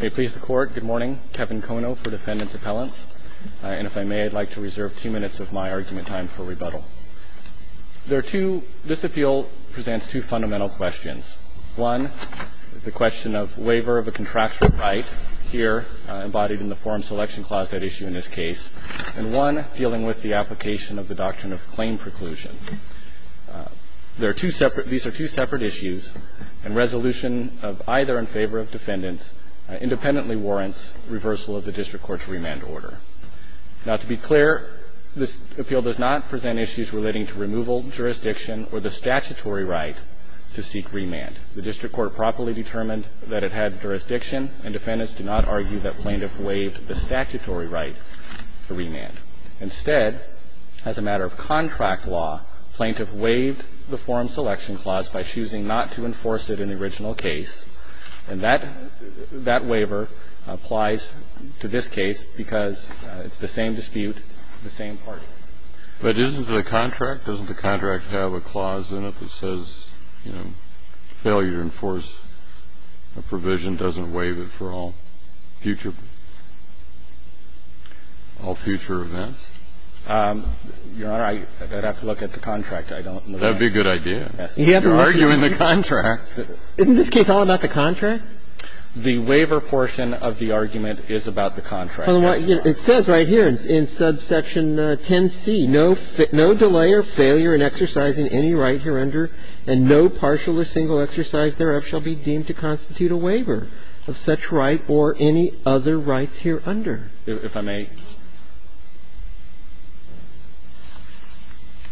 May it please the Court, good morning. Kevin Kono for Defendant's Appellants. And if I may, I'd like to reserve two minutes of my argument time for rebuttal. This appeal presents two fundamental questions. One is the question of waiver of a contractual right, here embodied in the Forum Selection Clause, that issue in this case, and one dealing with the application of the doctrine of claim preclusion. These are two separate issues, and resolution of either in favor of defendants independently warrants reversal of the district court's remand order. Now, to be clear, this appeal does not present issues relating to removal, jurisdiction, or the statutory right to seek remand. The district court properly determined that it had jurisdiction, and defendants do not argue that plaintiff waived the statutory right to remand. Instead, as a matter of contract law, plaintiff waived the Forum Selection Clause by choosing not to enforce it in the original case. And that waiver applies to this case because it's the same dispute, the same parties. But isn't the contract, doesn't the contract have a clause in it that says, you know, failure to enforce a provision doesn't waive it for all future events? Your Honor, I'd have to look at the contract. I don't know. That would be a good idea. You're arguing the contract. Isn't this case all about the contract? The waiver portion of the argument is about the contract. It says right here in subsection 10c, no delay or failure in exercising any right hereunder, and no partial or single exercise thereof shall be deemed to constitute a waiver of such right or any other rights hereunder. If I may.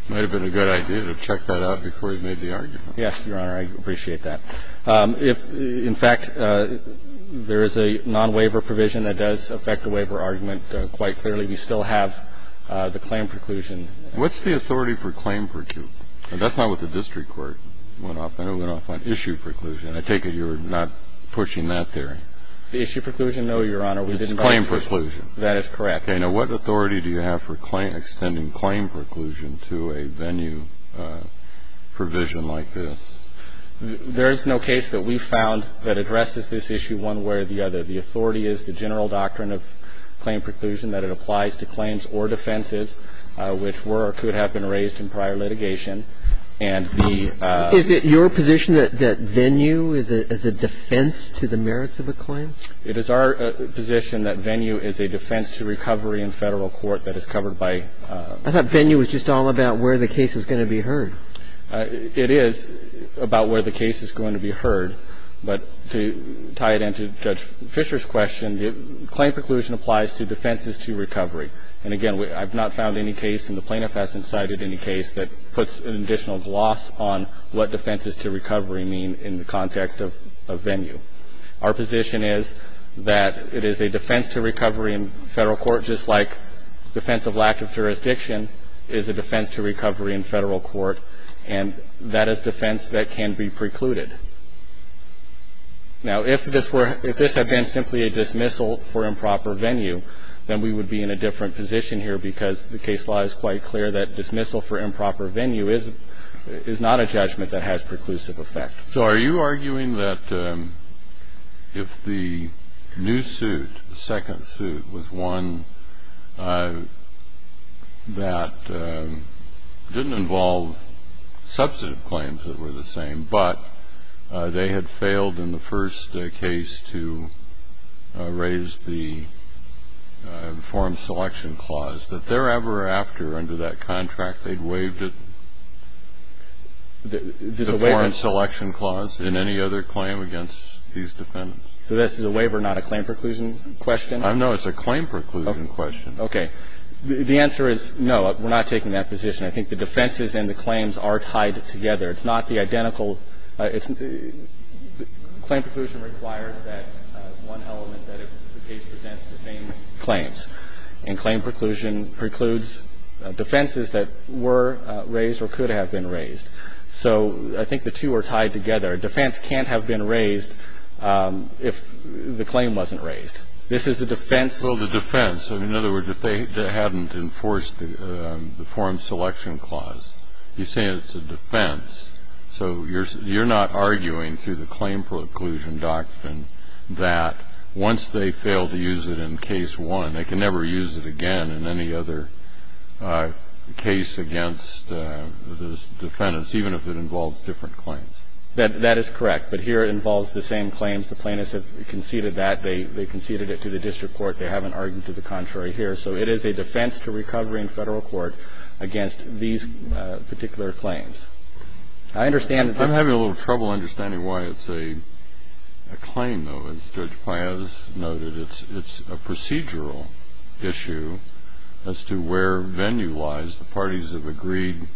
It might have been a good idea to check that out before you made the argument. Yes, Your Honor, I appreciate that. If, in fact, there is a nonwaiver provision that does affect the waiver argument quite clearly, we still have the claim preclusion. What's the authority for claim preclusion? That's not what the district court went off on. It went off on issue preclusion. I take it you're not pushing that theory. The issue preclusion, no, Your Honor. It's claim preclusion. That is correct. Okay. Now, what authority do you have for extending claim preclusion to a venue provision like this? There is no case that we've found that addresses this issue one way or the other. The authority is the general doctrine of claim preclusion, that it applies to claims or defenses which were or could have been raised in prior litigation. And the ---- Is it your position that venue is a defense to the merits of a claim? It is our position that venue is a defense to recovery in Federal court that is covered by ---- I thought venue was just all about where the case was going to be heard. It is about where the case is going to be heard. But to tie it in to Judge Fischer's question, claim preclusion applies to defenses to recovery. And, again, I've not found any case in the plaintiff hasn't cited any case that puts an additional gloss on what defenses to recovery mean in the context of venue. Our position is that it is a defense to recovery in Federal court, just like defense of lack of jurisdiction is a defense to recovery in Federal court. And that is defense that can be precluded. Now, if this were ---- if this had been simply a dismissal for improper venue, then we would be in a different position here because the case law is quite clear that dismissal for improper venue is not a judgment that has preclusive effect. So are you arguing that if the new suit, the second suit, was one that didn't involve substantive claims that were the same, but they had failed in the first case to raise the form selection clause, that thereafter, under that contract, they'd waived the form selection clause in any other claim against these defendants? So this is a waiver, not a claim preclusion question? No, it's a claim preclusion question. Okay. The answer is no, we're not taking that position. I think the defenses and the claims are tied together. It's not the identical ---- claim preclusion requires that one element that the case presents the same claims. And claim preclusion precludes defenses that were raised or could have been raised. So I think the two are tied together. A defense can't have been raised if the claim wasn't raised. This is a defense. Well, the defense. In other words, if they hadn't enforced the form selection clause, you say it's a defense. So you're not arguing through the claim preclusion doctrine that once they fail to use it in case one, they can never use it again in any other case against the defendants, even if it involves different claims. That is correct. But here it involves the same claims. The plaintiffs have conceded that. They conceded it to the district court. They haven't argued to the contrary here. So it is a defense to recovery in Federal court against these particular claims. I understand that this ---- I'm having a little trouble understanding why it's a claim, though. As Judge Paez noted, it's a procedural issue as to where venue lies. The parties have agreed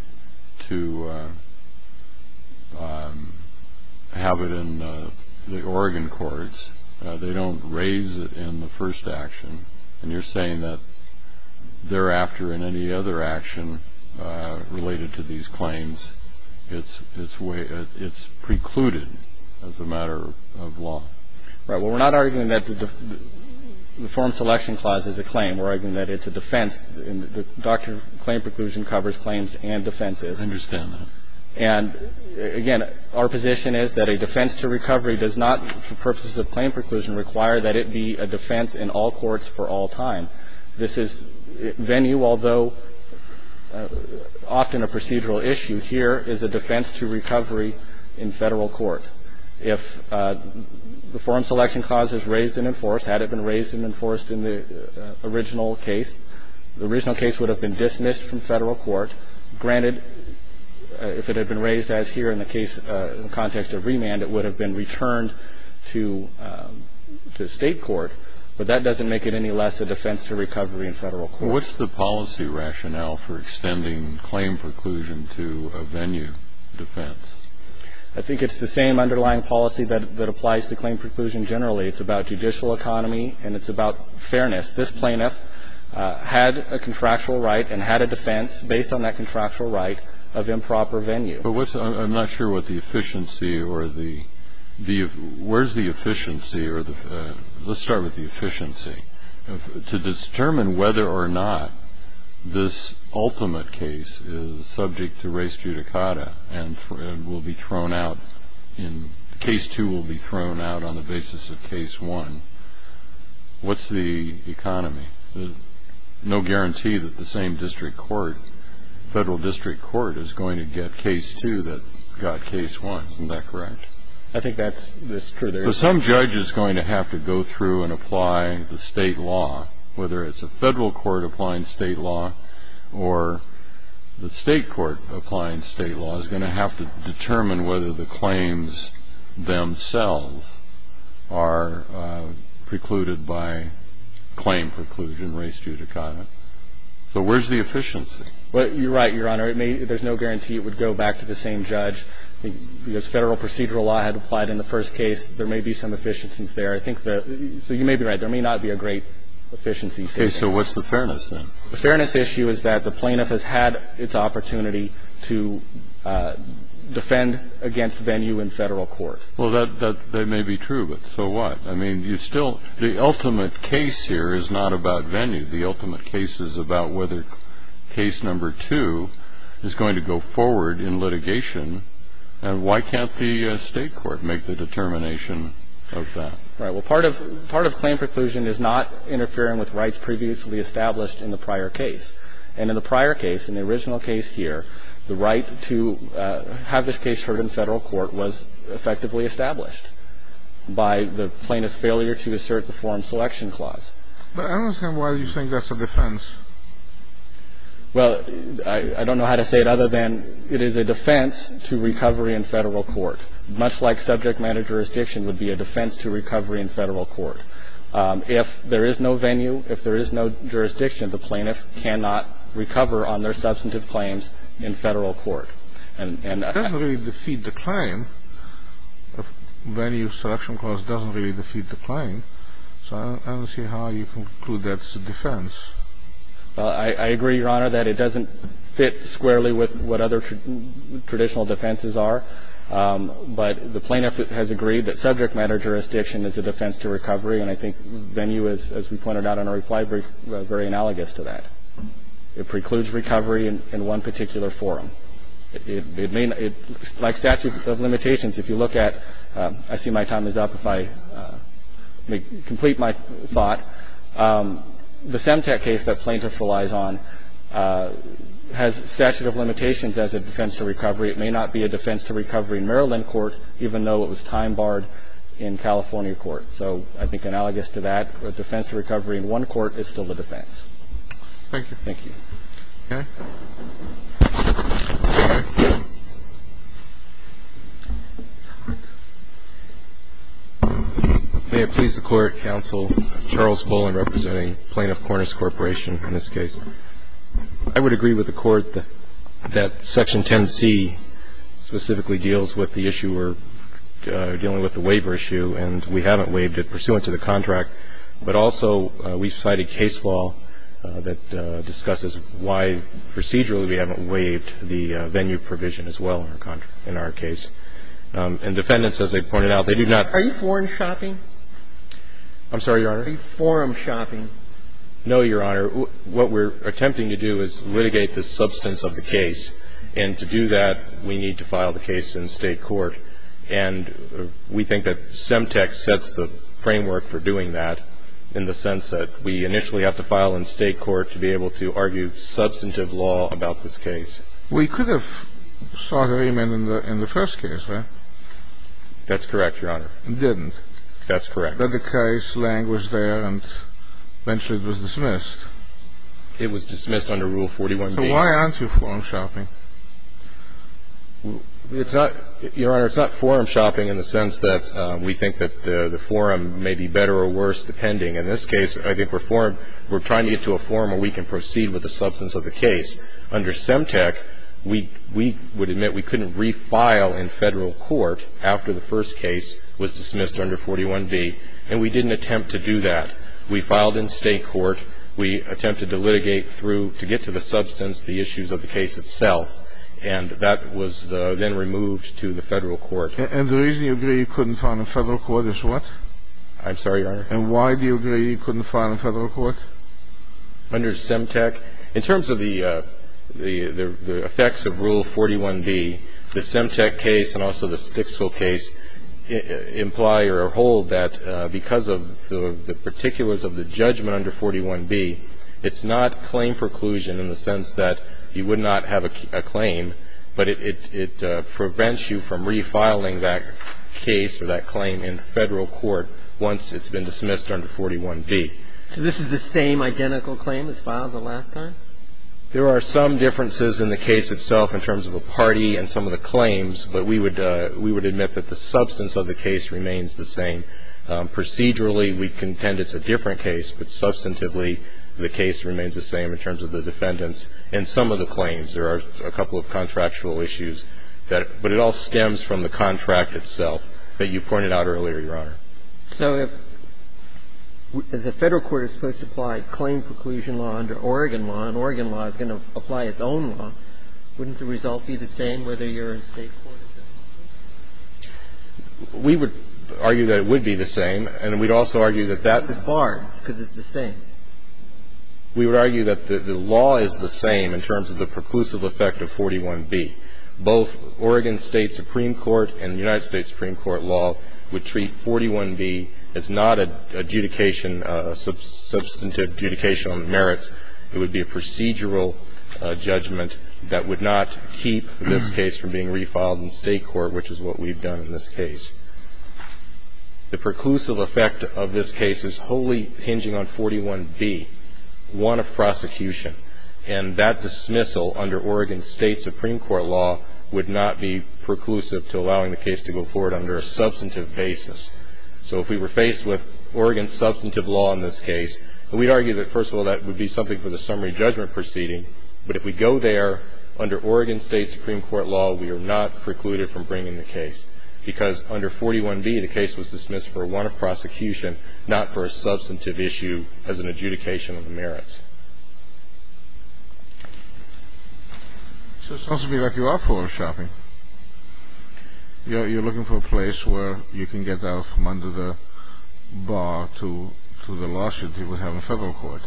to have it in the Oregon courts. They don't raise it in the first action. And you're saying that thereafter in any other action related to these claims, it's precluded as a matter of law. Right. Well, we're not arguing that the form selection clause is a claim. We're arguing that it's a defense. The doctrine of claim preclusion covers claims and defenses. I understand that. And, again, our position is that a defense to recovery does not, for purposes of claim preclusion, require that it be a defense in all courts for all time. This is venue, although often a procedural issue. Here is a defense to recovery in Federal court. If the form selection clause is raised and enforced, had it been raised and enforced in the original case, the original case would have been dismissed from Federal court. Granted, if it had been raised as here in the case, in the context of remand, it would have been returned to State court. But that doesn't make it any less a defense to recovery in Federal court. Well, what's the policy rationale for extending claim preclusion to a venue defense? I think it's the same underlying policy that applies to claim preclusion generally. It's about judicial economy and it's about fairness. This plaintiff had a contractual right and had a defense based on that contractual right of improper venue. But what's the – I'm not sure what the efficiency or the – where's the efficiency or the – let's start with the efficiency. To determine whether or not this ultimate case is subject to res judicata and will be thrown out in – case two will be thrown out on the basis of case one, what's the economy? No guarantee that the same district court, Federal district court, is going to get case two that got case one. Isn't that correct? I think that's true. So some judge is going to have to go through and apply the State law. Whether it's a Federal court applying State law or the State court applying State law is going to have to determine whether the claims themselves are precluded by claim preclusion, res judicata. So where's the efficiency? You're right, Your Honor. There's no guarantee it would go back to the same judge. I think because Federal procedural law had applied in the first case, there may be some efficiencies there. I think the – so you may be right. There may not be a great efficiency. Okay. So what's the fairness then? The fairness issue is that the plaintiff has had its opportunity to defend against venue in Federal court. Well, that may be true, but so what? I mean, you still – the ultimate case here is not about venue. The ultimate case is about whether case number two is going to go forward in litigation, and why can't the State court make the determination of that? Right. Well, part of claim preclusion is not interfering with rights previously established in the prior case. And in the prior case, in the original case here, the right to have this case heard in Federal court was effectively established by the plaintiff's failure to assert the forum selection clause. But I don't understand why you think that's a defense. Well, I don't know how to say it other than it is a defense to recovery in Federal court, much like subject matter jurisdiction would be a defense to recovery in Federal court. If there is no venue, if there is no jurisdiction, the plaintiff cannot recover on their substantive claims in Federal court. And – It doesn't really defeat the claim. Venue selection clause doesn't really defeat the claim. So I don't see how you conclude that's a defense. Well, I agree, Your Honor, that it doesn't fit squarely with what other traditional defenses are. But the plaintiff has agreed that subject matter jurisdiction is a defense to recovery, and I think venue, as we pointed out in our reply, is very analogous to that. It precludes recovery in one particular forum. It may not – like statute of limitations, if you look at – I see my time is up. If I may complete my thought, the Semtec case that plaintiff relies on has statute of limitations as a defense to recovery. It may not be a defense to recovery in Maryland court, even though it was time barred in California court. So I think analogous to that, a defense to recovery in one court is still a defense. Thank you. Thank you. Okay. May it please the Court, Counsel, Charles Bullen, representing Plaintiff Cornish Corporation, in this case. I would agree with the Court that Section 10C specifically deals with the issue we're dealing with, the waiver issue, and we haven't waived it pursuant to the contract, but also we've cited case law that discusses why the plaintiff may not be able to recover. And procedurally, we haven't waived the venue provision as well in our case. And defendants, as they pointed out, they do not – Are you foreign shopping? I'm sorry, Your Honor. Are you forum shopping? No, Your Honor. What we're attempting to do is litigate the substance of the case. And to do that, we need to file the case in State court. And we think that Semtec sets the framework for doing that in the sense that we initially have to file in State court to be able to argue substantive law about this case. We could have sought an amendment in the first case, right? That's correct, Your Honor. Didn't. That's correct. But the case language there and eventually it was dismissed. It was dismissed under Rule 41b. So why aren't you forum shopping? It's not – Your Honor, it's not forum shopping in the sense that we think that the forum may be better or worse depending. In this case, I think we're trying to get to a forum where we can proceed with the substance of the case. Under Semtec, we would admit we couldn't refile in Federal court after the first case was dismissed under 41b. And we didn't attempt to do that. We filed in State court. We attempted to litigate through – to get to the substance, the issues of the case itself. And that was then removed to the Federal court. And the reason you agree you couldn't file in Federal court is what? I'm sorry, Your Honor. And why do you agree you couldn't file in Federal court? Under Semtec, in terms of the effects of Rule 41b, the Semtec case and also the Sticksville case imply or hold that because of the particulars of the judgment under 41b, it's not claim preclusion in the sense that you would not have a claim, but it prevents you from refiling that case or that claim in Federal court once it's been dismissed under 41b. So this is the same identical claim as filed the last time? There are some differences in the case itself in terms of a party and some of the claims, but we would admit that the substance of the case remains the same. Procedurally, we contend it's a different case, but substantively the case remains the same in terms of the defendants and some of the claims. There are a couple of contractual issues, but it all stems from the contract itself that you pointed out earlier, Your Honor. So if the Federal court is supposed to apply claim preclusion law under Oregon law and Oregon law is going to apply its own law, wouldn't the result be the same whether you're in State court or Federal court? We would argue that it would be the same, and we'd also argue that that's the same. It's barred because it's the same. We would argue that the law is the same in terms of the preclusive effect of 41b. Both Oregon State Supreme Court and the United States Supreme Court law would treat 41b as not an adjudication, substantive adjudication on the merits. It would be a procedural judgment that would not keep this case from being refiled in State court, which is what we've done in this case. The preclusive effect of this case is wholly hinging on 41b, one of prosecution, and that dismissal under Oregon State Supreme Court law would not be preclusive to allowing the case to go forward under a substantive basis. So if we were faced with Oregon's substantive law in this case, we'd argue that, first of all, that would be something for the summary judgment proceeding, but if we go there under Oregon State Supreme Court law, we are not precluded from bringing the case because under 41b, the case was dismissed for one of prosecution, not for a substantive issue as an adjudication of the merits. So it's not to be like you are photoshopping. You're looking for a place where you can get out from under the bar to the lawsuit you would have in federal court.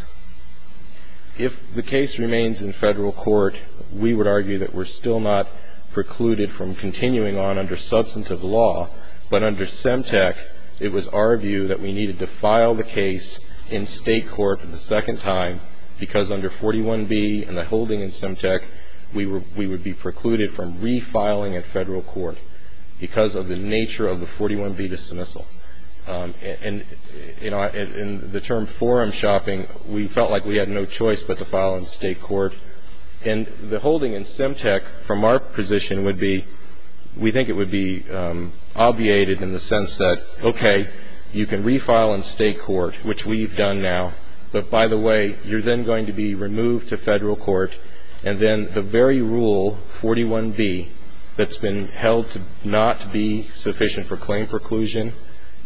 If the case remains in federal court, we would argue that we're still not precluded from continuing on under substantive law, but under Semtec, it was our view that we needed to file the case in State court the second time because under 41b and the holding in Semtec, we would be precluded from refiling at federal court because of the nature of the 41b dismissal. And, you know, in the term forum shopping, we felt like we had no choice but to file in State court. And the holding in Semtec from our position would be, we think it would be obviated in the sense that, okay, you can refile in State court, which we've done now, but by the way, you're then going to be removed to federal court, and then the very rule, 41b, that's been held to not be sufficient for claim preclusion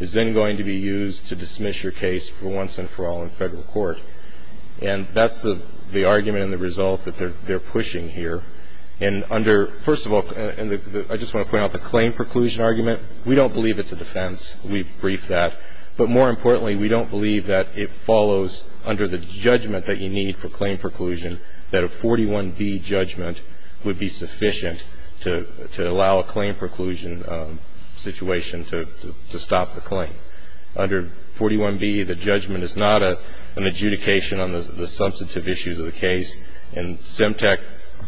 is then going to be used to dismiss your case for once and for all in federal court. And that's the argument and the result that they're pushing here. And under, first of all, I just want to point out the claim preclusion argument, we don't believe it's a defense. We've briefed that. But more importantly, we don't believe that it follows under the judgment that you need for claim preclusion that a 41b judgment would be sufficient. To allow a claim preclusion situation to stop the claim. Under 41b, the judgment is not an adjudication on the substantive issues of the case, and Semtec,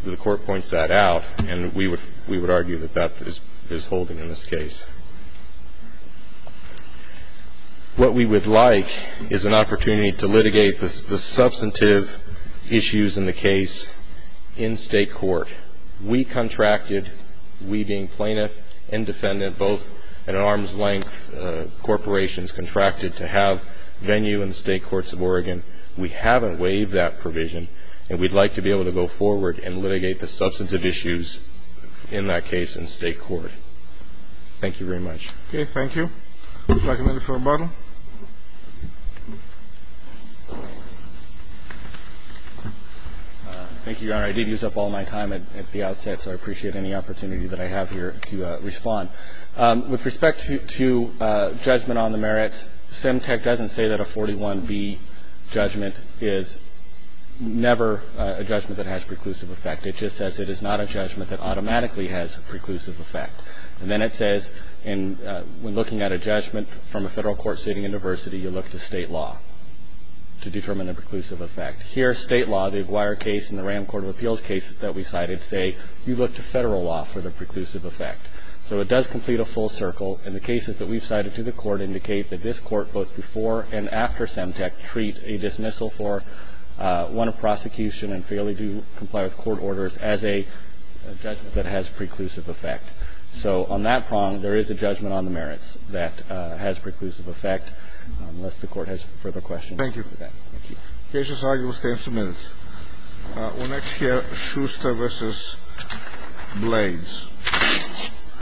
the court points that out, and we would argue that that is holding in this case. What we would like is an opportunity to litigate the substantive issues in the case in State court. We contracted, we being plaintiff and defendant, both at an arm's length corporations contracted to have venue in the State Courts of Oregon. We haven't waived that provision, and we'd like to be able to go forward and litigate the substantive issues in that case in State court. Thank you very much. Okay, thank you. Would you like a minute for rebuttal? Thank you, Your Honor. I did use up all my time at the outset, so I appreciate any opportunity that I have here to respond. With respect to judgment on the merits, Semtec doesn't say that a 41b judgment is never a judgment that has preclusive effect. It just says it is not a judgment that automatically has preclusive effect. And then it says when looking at a judgment from a Federal court sitting in diversity, you look to State law to determine the preclusive effect. Here, State law, the Aguirre case and the Ram Court of Appeals case that we cited say you look to Federal law for the preclusive effect. So it does complete a full circle, and the cases that we've cited to the Court indicate that this Court, both before and after Semtec, treat a dismissal for one of prosecution and failure to comply with court orders as a judgment that has preclusive effect. So on that prong, there is a judgment on the merits that has preclusive effect, unless the Court has further questions. Thank you. Thank you. Case decided. We'll stay in a few minutes. We'll next hear Schuster v. Blades.